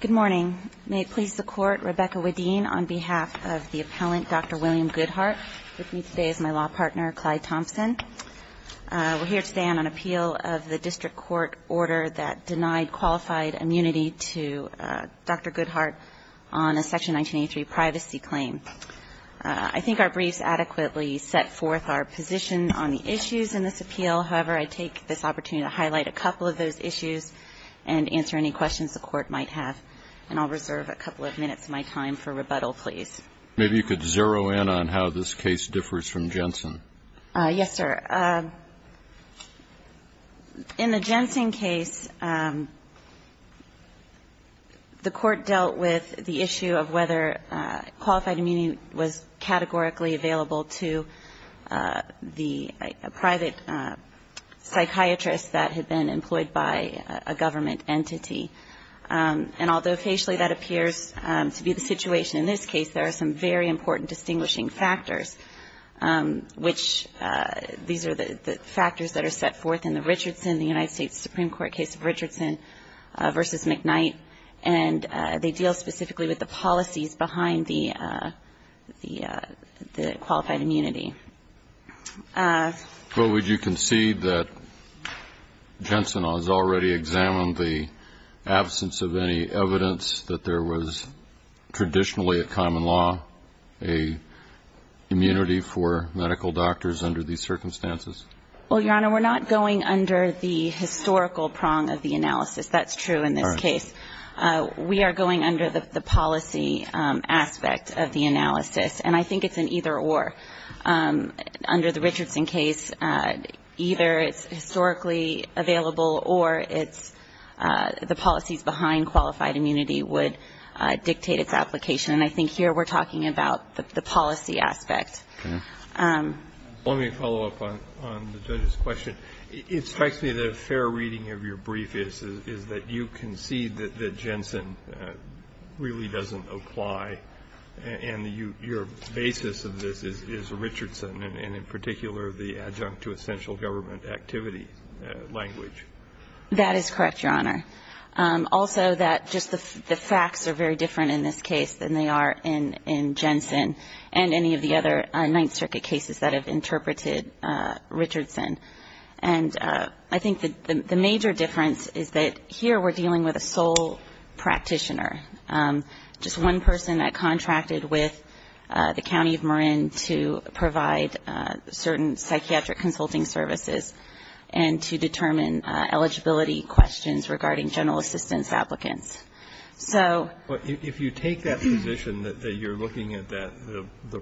Good morning. May it please the Court, Rebecca Wedeen on behalf of the appellant, Dr. William Goodheart, with me today is my law partner, Clyde Thompson. We're here today on an appeal of the district court order that denied qualified immunity to Dr. Goodheart on a Section 1983 privacy claim. I think our briefs adequately set forth our position on the issues in this appeal. However, I take this opportunity to highlight a couple of those issues and answer any questions the Court might have. And I'll reserve a couple of minutes of my time for rebuttal, please. Maybe you could zero in on how this case differs from Jensen. Yes, sir. In the Jensen case, the Court dealt with the issue of whether qualified immunity was categorically available to the private psychiatrist that had been employed by a government entity. And although facially that appears to be the situation in this case, there are some very important distinguishing factors, which these are the factors that are set forth in the Richardson, the United States Supreme Court case of Richardson v. McKnight. And they deal specifically with the policies behind the qualified immunity. Well, would you concede that Jensen has already examined the absence of any evidence that there was traditionally a common law, a immunity for medical doctors under these circumstances? Well, Your Honor, we're not going under the historical prong of the analysis. That's true in this case. We are going under the policy aspect of the analysis. And I think it's an either-or. Under the Richardson case, either it's historically available or it's the policies behind qualified immunity would dictate its application. And I think here we're talking about the policy aspect. Let me follow up on the judge's question. It strikes me that a fair reading of your brief is that you concede that Jensen really doesn't apply and your basis of this is Richardson and in particular the adjunct to essential government activity language. That is correct, Your Honor. Also that just the facts are very different in this case than they are in Jensen and any of the other Ninth Circuit cases that have interpreted Richardson. And I think the major difference is that here we're dealing with a sole practitioner, just one person that contracted with the County of Marin to provide certain psychiatric consulting services and to determine eligibility questions regarding general assistance applicants. So ---- But if you take that position that you're looking at the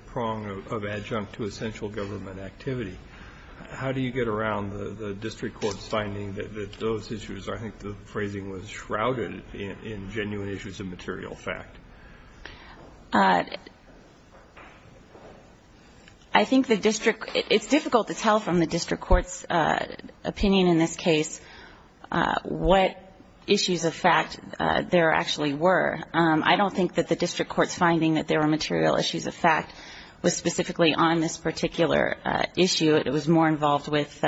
prong of adjunct to essential government activity, how do you get around the district court's finding that those issues, I think the phrasing was shrouded, in genuine issues of material fact? I think the district ---- it's difficult to tell from the district court's opinion in this case what issues of fact the district courts finding that there were material issues of fact was specifically on this particular issue. It was more involved with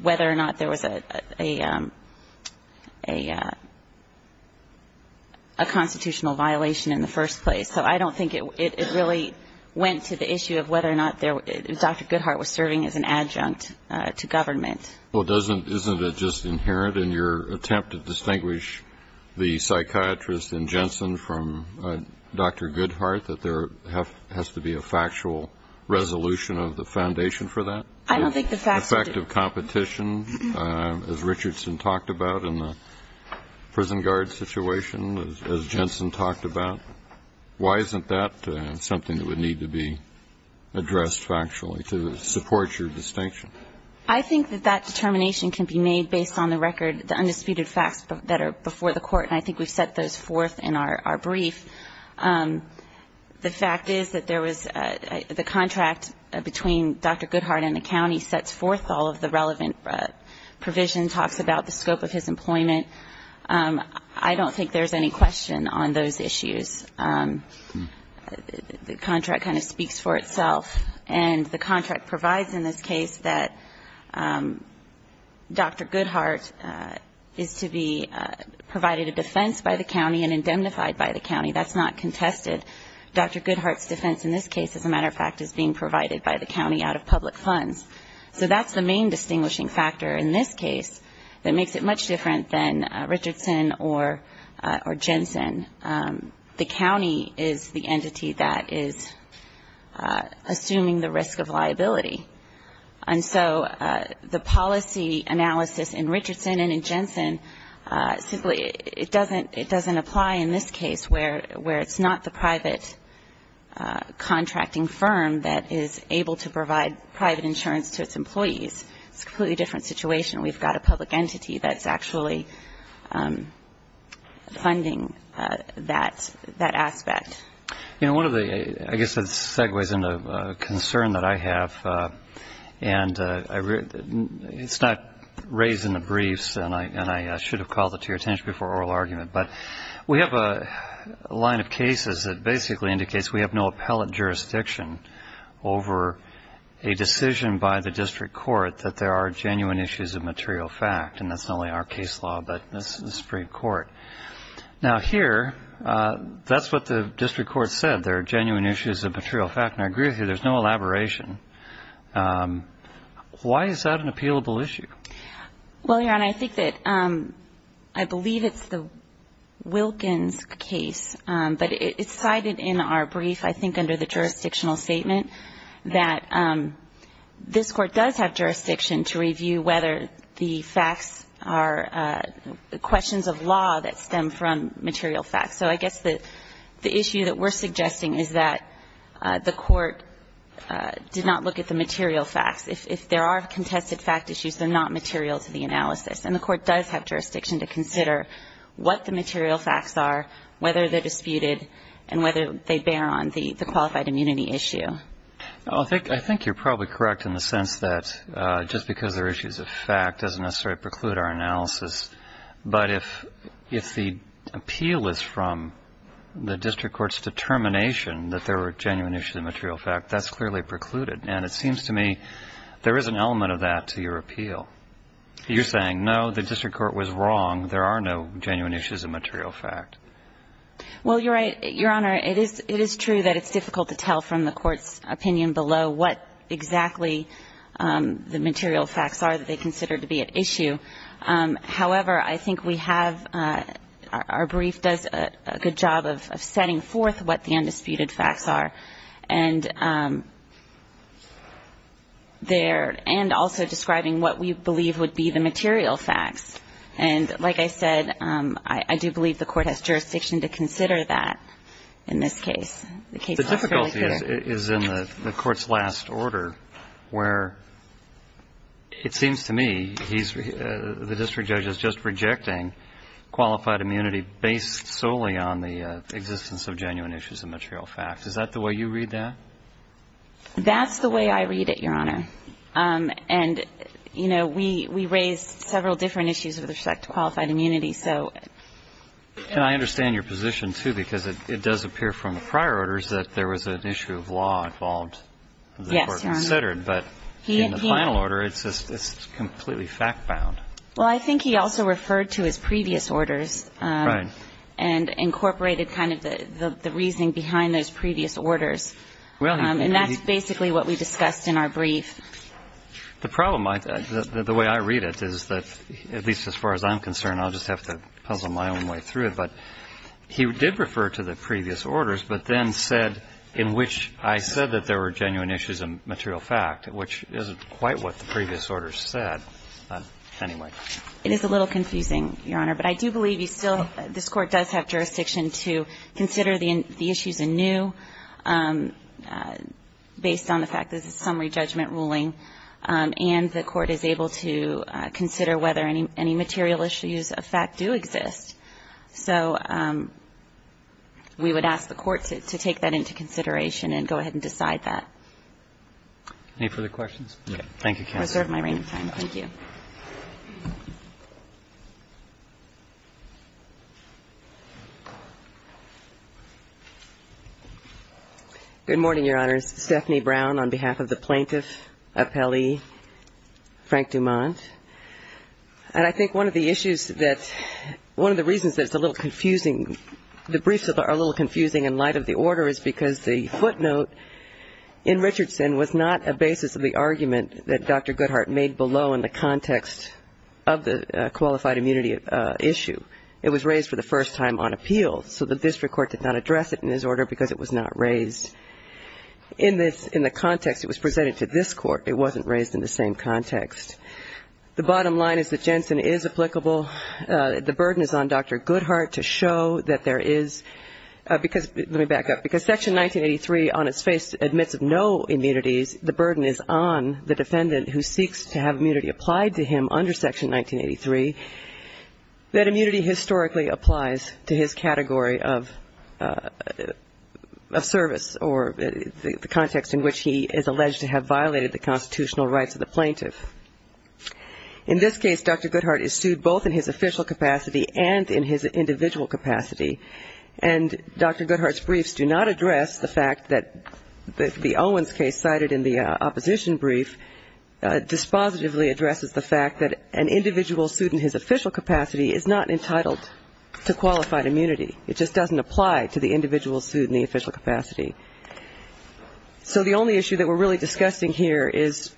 whether or not there was a constitutional violation in the first place. So I don't think it really went to the issue of whether or not Dr. Goodhart was serving as an adjunct to government. Well, doesn't ---- isn't it just inherent in your attempt to distinguish the psychiatrist in Jensen from Dr. Goodhart that there has to be a factual resolution of the foundation for that? I don't think the fact ---- Effective competition, as Richardson talked about in the prison guard situation, as Jensen talked about. Why isn't that something that would need to be addressed factually to support your distinction? I think that that determination can be made based on the record, the undisputed facts that are before the court, and I think we've set those forth in our brief. The fact is that there was a ---- the contract between Dr. Goodhart and the county sets forth all of the relevant provision, talks about the scope of his employment. I don't think there's any question on those issues. The contract kind of speaks for itself, and the contract provides in this case that Dr. Goodhart is to be provided a defense by the county and indemnified by the county. That's not contested. Dr. Goodhart's defense in this case, as a matter of fact, is being provided by the county out of public funds. So that's the main distinguishing factor in this case that makes it much different than Richardson or Jensen. The county is the entity that is assuming the risk of liability. And so the policy analysis in Richardson and in Jensen simply doesn't apply in this case where it's not the private contracting firm that is able to provide private insurance to its employees. It's a completely different situation. We've got a public entity that's actually funding that aspect. You know, one of the ---- I guess it segues into a concern that I have, and it's not raised in the briefs, and I should have called it to your attention before oral argument. But we have a line of cases that basically indicates we have no appellate jurisdiction over a decision by the district court that there are genuine issues of material fact. And that's not only our case law, but this is the Supreme Court. Now, here, that's what the district court said, there are genuine issues of material fact. And I agree with you, there's no elaboration. Why is that an appealable issue? Well, Your Honor, I think that ---- I believe it's the Wilkins case. But it's cited in our brief, I think under the jurisdictional statement, that this Court does have jurisdiction to review whether the facts are questions of law that stem from material facts. So I guess the issue that we're suggesting is that the Court did not look at the material facts. If there are contested fact issues, they're not material to the analysis. And the Court does have jurisdiction to consider what the material facts are, whether they're disputed, and whether they bear on the qualified immunity issue. I think you're probably correct in the sense that just because there are issues of fact doesn't necessarily preclude our analysis. But if the appeal is from the district court's determination that there are genuine issues of material fact, that's clearly precluded. And it seems to me there is an element of that to your appeal. You're saying, no, the district court was wrong, there are no genuine issues of material fact. Well, Your Honor, it is true that it's difficult to tell from the Court's opinion below what exactly the material facts are that they consider to be at issue. However, I think we have ---- our brief does a good job of setting forth what the undisputed facts are. And also describing what we believe would be the material facts. And like I said, I do believe the Court has jurisdiction to consider that in this case. The difficulty is in the Court's last order where it seems to me the district judge is just rejecting qualified immunity based solely on the existence of genuine issues of material fact. Is that the way you read that? That's the way I read it, Your Honor. And, you know, we raise several different issues with respect to qualified immunity. So ---- And I understand your position, too, because it does appear from the prior orders that there was an issue of law involved that the Court considered. Yes, Your Honor. But in the final order, it's just completely fact-bound. Well, I think he also referred to his previous orders. Right. And incorporated kind of the reasoning behind those previous orders. And that's basically what we discussed in our brief. The problem, the way I read it, is that, at least as far as I'm concerned, I'll just have to puzzle my own way through it. But he did refer to the previous orders, but then said in which I said that there were genuine issues of material fact, which isn't quite what the previous orders said. Anyway. It is a little confusing, Your Honor. But I do believe you still ---- this Court does have jurisdiction to consider the issues anew based on the fact that this is a summary judgment ruling, and the Court is able to consider whether any material issues of fact do exist. So we would ask the Court to take that into consideration and go ahead and decide that. Any further questions? No. Thank you, counsel. I reserve my reign of time. Thank you. Good morning, Your Honors. Stephanie Brown on behalf of the Plaintiff Appellee, Frank Dumont. And I think one of the issues that ---- one of the reasons that it's a little confusing, the briefs are a little confusing in light of the order is because the footnote in Richardson was not a basis of the argument that Dr. Goodhart made below in the context of the qualified immunity issue. It was raised for the first time on appeal. So the district court did not address it in this order because it was not raised in this ---- in the context it was presented to this Court. It wasn't raised in the same context. The bottom line is that Jensen is applicable. The burden is on Dr. Goodhart to show that there is ---- because ---- let me back up. Because Section 1983 on its face admits no immunities. The burden is on the defendant who seeks to have immunity applied to him under Section 1983 that immunity historically applies to his category of service or the context in which he is alleged to have violated the constitutional rights of the plaintiff. In this case, Dr. Goodhart is sued both in his official capacity and in his individual capacity. And Dr. Goodhart's briefs do not address the fact that the Owens case cited in the opposition brief dispositively addresses the fact that an individual sued in his official capacity is not entitled to qualified immunity. It just doesn't apply to the individual sued in the official capacity. So the only issue that we're really discussing here is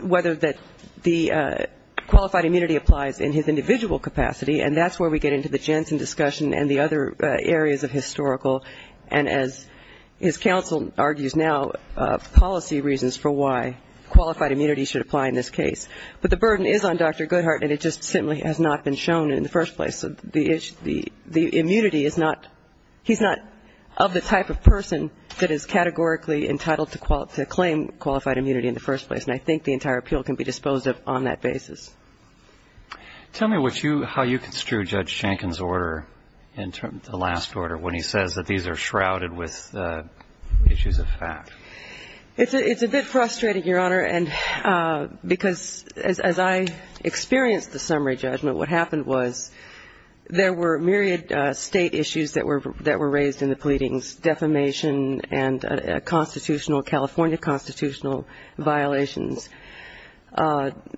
whether that the qualified immunity applies in his individual capacity, and that's where we get into the Jensen discussion and the other areas of historical. And as his counsel argues now, policy reasons for why qualified immunity should apply in this case. But the burden is on Dr. Goodhart, and it just simply has not been shown in the first place. The immunity is not ---- he's not of the type of person that is categorically entitled to claim qualified immunity in the first place. And I think the entire appeal can be disposed of on that basis. Tell me what you ---- how you construe Judge Schenken's order, the last order, when he says that these are shrouded with issues of fact. It's a bit frustrating, Your Honor, because as I experienced the summary judgment, what happened was there were myriad state issues that were raised in the pleadings, defamation and constitutional, California constitutional violations.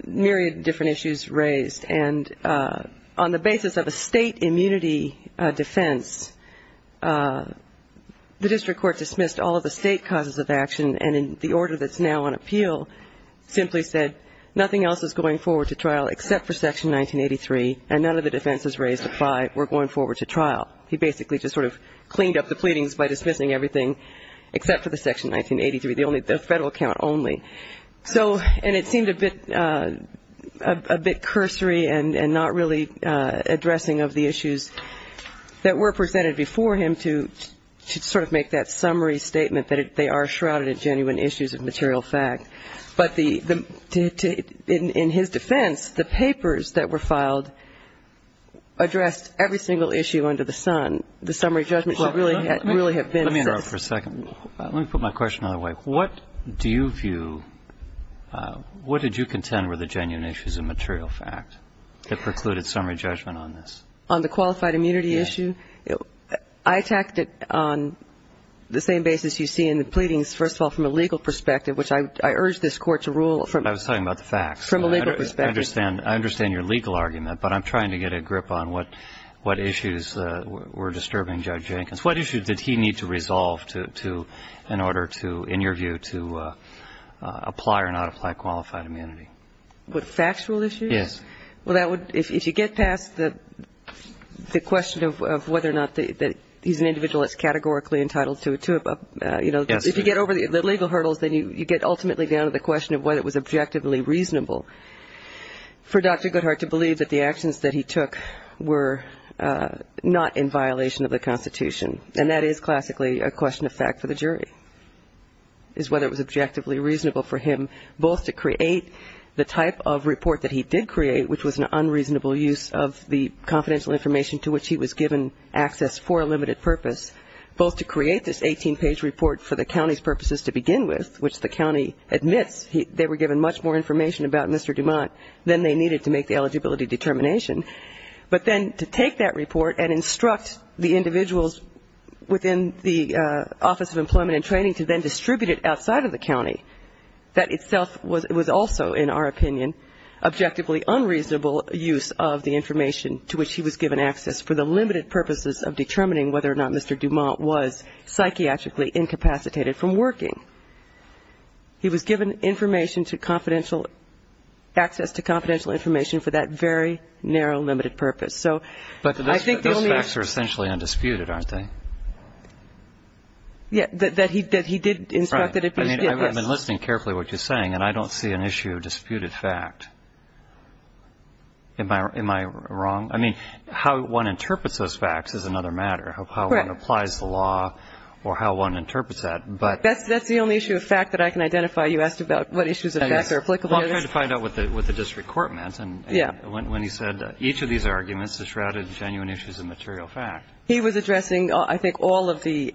Myriad different issues raised, and on the basis of a state immunity defense, the district court dismissed all of the state causes of action, and in the order that's now on appeal simply said nothing else is going forward to trial except for Section 1983, and none of the defenses raised apply, we're going forward to trial. He basically just sort of cleaned up the pleadings by dismissing everything except for the Section 1983, and not only. So, and it seemed a bit cursory and not really addressing of the issues that were presented before him to sort of make that summary statement that they are shrouded in genuine issues of material fact. But the ---- in his defense, the papers that were filed addressed every single issue under the sun. The summary judgment should really have been ---- Let me interrupt for a second. Let me put my question another way. What do you view, what did you contend were the genuine issues of material fact that precluded summary judgment on this? On the qualified immunity issue? I attacked it on the same basis you see in the pleadings, first of all, from a legal perspective, which I urge you not to do, but I was talking about the facts. From a legal perspective. I understand your legal argument, but I'm trying to get a grip on what issues were disturbing Judge Jenkins. What issues did he need to resolve to, in order to, in your view, to apply or not apply qualified immunity? With factual issues? Yes. Well, that would, if you get past the question of whether or not that he's an individual that's categorically entitled to a, you know, if you get over the legal hurdles, then you get ultimately down to the question of whether it was objectively reasonable for Dr. Goodhart to believe that the actions that he took were not in violation of the Constitution. And that is classically a question of fact for the jury, is whether it was objectively reasonable for him both to create the type of report that he did create, which was not in violation of the Constitution, which was an unreasonable use of the confidential information to which he was given access for a limited purpose, both to create this 18-page report for the county's purposes to begin with, which the county admits they were given much more information about Mr. Dumont than they needed to make the eligibility determination, but then to take that report and instruct the individuals within the Office of Employment and Training to then distribute it outside of the county. That itself was also, in our opinion, objectively unreasonable use of the information to which he was given access for the limited purposes of determining whether or not Mr. Dumont was psychiatrically incapacitated from working. He was given information to confidential, access to confidential information for that very narrow limited purpose. So I think the only aspects are essentially undisputed, aren't they? Yeah, that he did instruct that if he did this. I'm listening carefully to what you're saying, and I don't see an issue of disputed fact. Am I wrong? I mean, how one interprets those facts is another matter of how one applies the law or how one interprets that. That's the only issue of fact that I can identify. You asked about what issues of fact are applicable to this. Well, I tried to find out what the district court meant when he said each of these arguments is shrouded in genuine issues of material fact. He was addressing, I think, all of the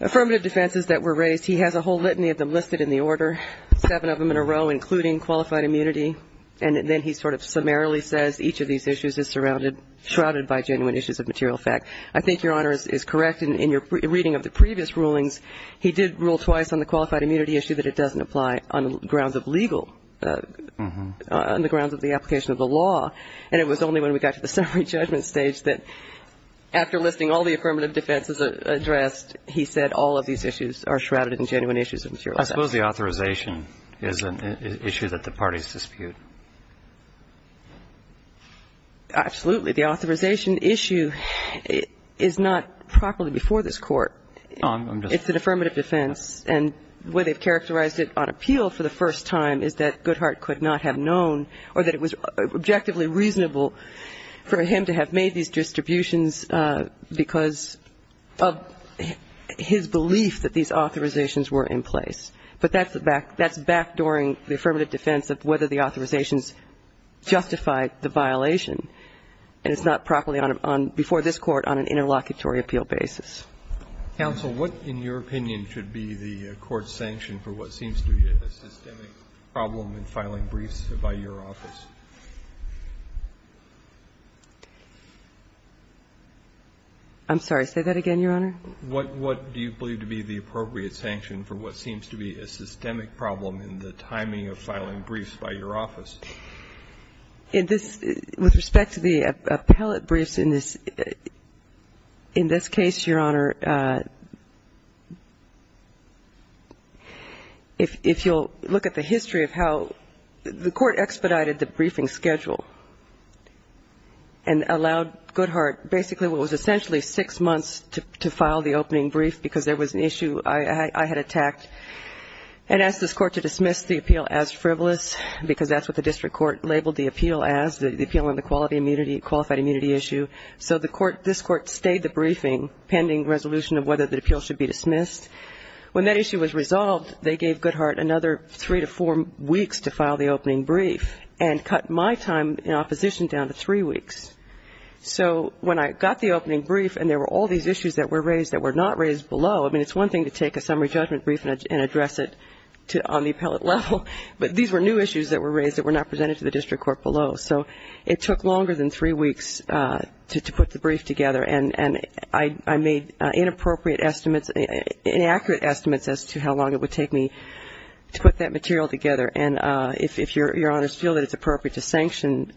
affirmative defenses that were raised. He has a whole litany of them listed in the order, seven of them in a row, including qualified immunity. And then he sort of summarily says each of these issues is surrounded, shrouded by genuine issues of material fact. I think Your Honor is correct in your reading of the previous rulings. He did rule twice on the qualified immunity issue that it doesn't apply on grounds of legal, on the grounds of the application of the law. And it was only when we got to the summary judgment stage that, after listing all the affirmative defenses addressed, he said all of these issues are shrouded in genuine issues of material fact. I suppose the authorization is an issue that the parties dispute. Absolutely. The authorization issue is not properly before this Court. It's an affirmative defense. And the way they've characterized it on appeal for the first time is that Goodhart could not have known or that it was objectively reasonable for him to have made these distributions because of his belief that these authorizations were in place. But that's backdooring the affirmative defense of whether the authorizations justified the violation, and it's not properly before this Court on an interlocutory appeal basis. Counsel, what, in your opinion, should be the Court's sanction for what seems to be a systemic problem in filing briefs by your office? I'm sorry. Say that again, Your Honor. What do you believe to be the appropriate sanction for what seems to be a systemic problem in the timing of filing briefs by your office? In this, with respect to the appellate briefs in this case, Your Honor, if you'll look at the history of how the Court expedited the briefing schedule and allowed Goodhart basically what was essentially six months to file the opening brief, because there was an issue I had attacked, and asked this Court to dismiss the appeal as frivolous, because that's what the district court labeled the appeal as, the appeal on the qualified immunity issue. So the Court, this Court stayed the briefing pending resolution of whether the appeal should be dismissed. When that issue was resolved, they gave Goodhart another three to four weeks to file the opening brief, and cut my time in opposition down to three weeks. So when I got the opening brief and there were all these issues that were raised that were not raised below, I mean, it's one thing to take a summary judgment brief and address it on the appellate level, but these were new issues that were raised that were not presented to the district court below. So it took longer than three weeks to put the brief together, and I made inappropriate estimates. Inaccurate estimates as to how long it would take me to put that material together. And if Your Honors feel that it's appropriate to sanction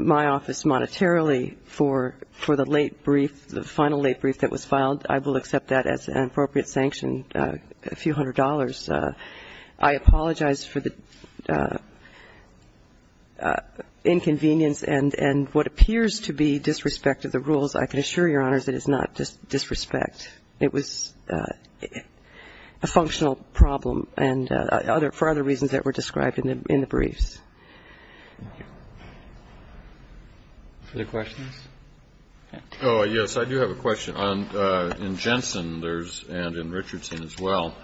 my office monetarily for the late brief, the final late brief that was filed, I will accept that as an appropriate sanction, a few hundred dollars. I apologize for the inconvenience and what appears to be disrespect of the rules. I can assure Your Honors it is not disrespect. It was a functional problem and for other reasons that were described in the briefs. Thank you. Other questions? Oh, yes. I do have a question. In Jensen there's, and in Richardson as well,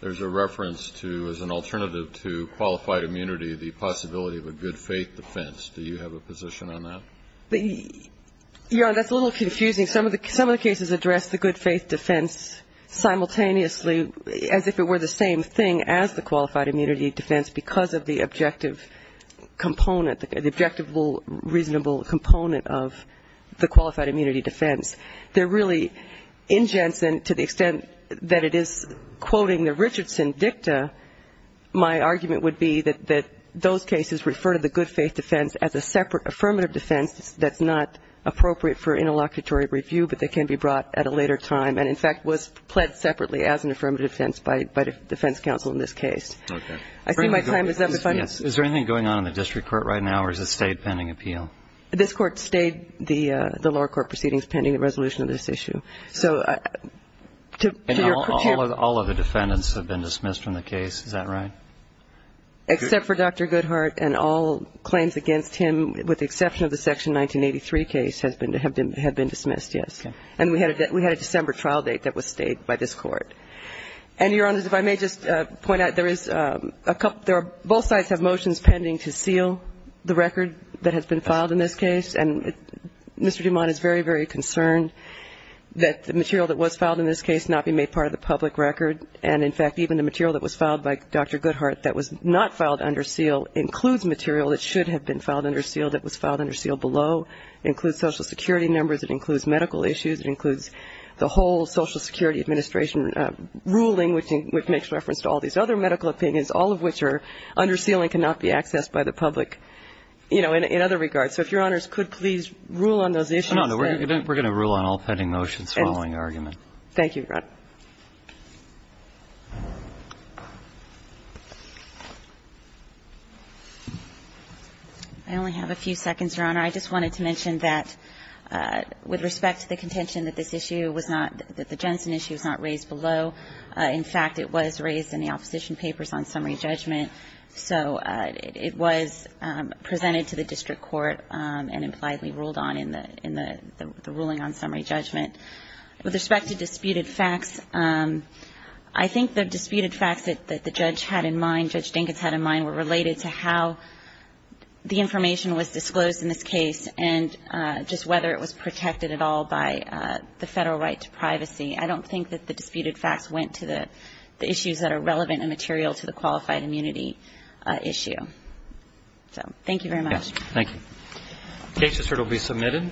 there's a reference to, as an alternative to qualified immunity, the possibility of a good faith defense. Do you have a position on that? Your Honor, that's a little confusing. Some of the cases address the good faith defense simultaneously, as if it were the same thing as the qualified immunity defense because of the objective component, the objective reasonable component of the qualified immunity defense. There really, in Jensen, to the extent that it is quoting the Richardson dicta, my argument would be that those cases refer to the good faith defense as a separate affirmative defense that's not appropriate for interlocutory review, but that can be brought at a later time and, in fact, was pled separately as an affirmative defense by defense counsel in this case. Okay. I see my time is up. Is there anything going on in the district court right now or has it stayed pending appeal? This Court stayed the lower court proceedings pending the resolution of this issue. So to your question. All of the defendants have been dismissed from the case, is that right? Except for Dr. Goodhart and all claims against him, with the exception of the Section 1983 case, have been dismissed, yes. Okay. And we had a December trial date that was stayed by this Court. And, Your Honor, if I may just point out, there is a couple of – both sides have motions pending to seal the record that has been filed in this case, and Mr. Dumont is very, very concerned that the material that was filed in this case must not be made part of the public record. And, in fact, even the material that was filed by Dr. Goodhart that was not filed under seal includes material that should have been filed under seal that was filed under seal below, includes Social Security numbers, it includes medical issues, it includes the whole Social Security Administration ruling, which makes reference to all these other medical opinions, all of which are under seal and cannot be accessed by the public, you know, in other regards. So if Your Honors could please rule on those issues. No, we're going to rule on all pending motions following argument. Thank you, Your Honor. I only have a few seconds, Your Honor. I just wanted to mention that with respect to the contention that this issue was not – that the Jensen issue was not raised below. In fact, it was raised in the opposition papers on summary judgment. So it was presented to the district court and impliedly ruled on in the ruling on summary judgment. With respect to disputed facts, I think the disputed facts that the judge had in mind, Judge Dinkins had in mind, were related to how the information was disclosed in this case and just whether it was protected at all by the Federal right to privacy. I don't think that the disputed facts went to the issues that are relevant and material to the qualified immunity issue. So thank you very much. Thank you. The case result will be submitted.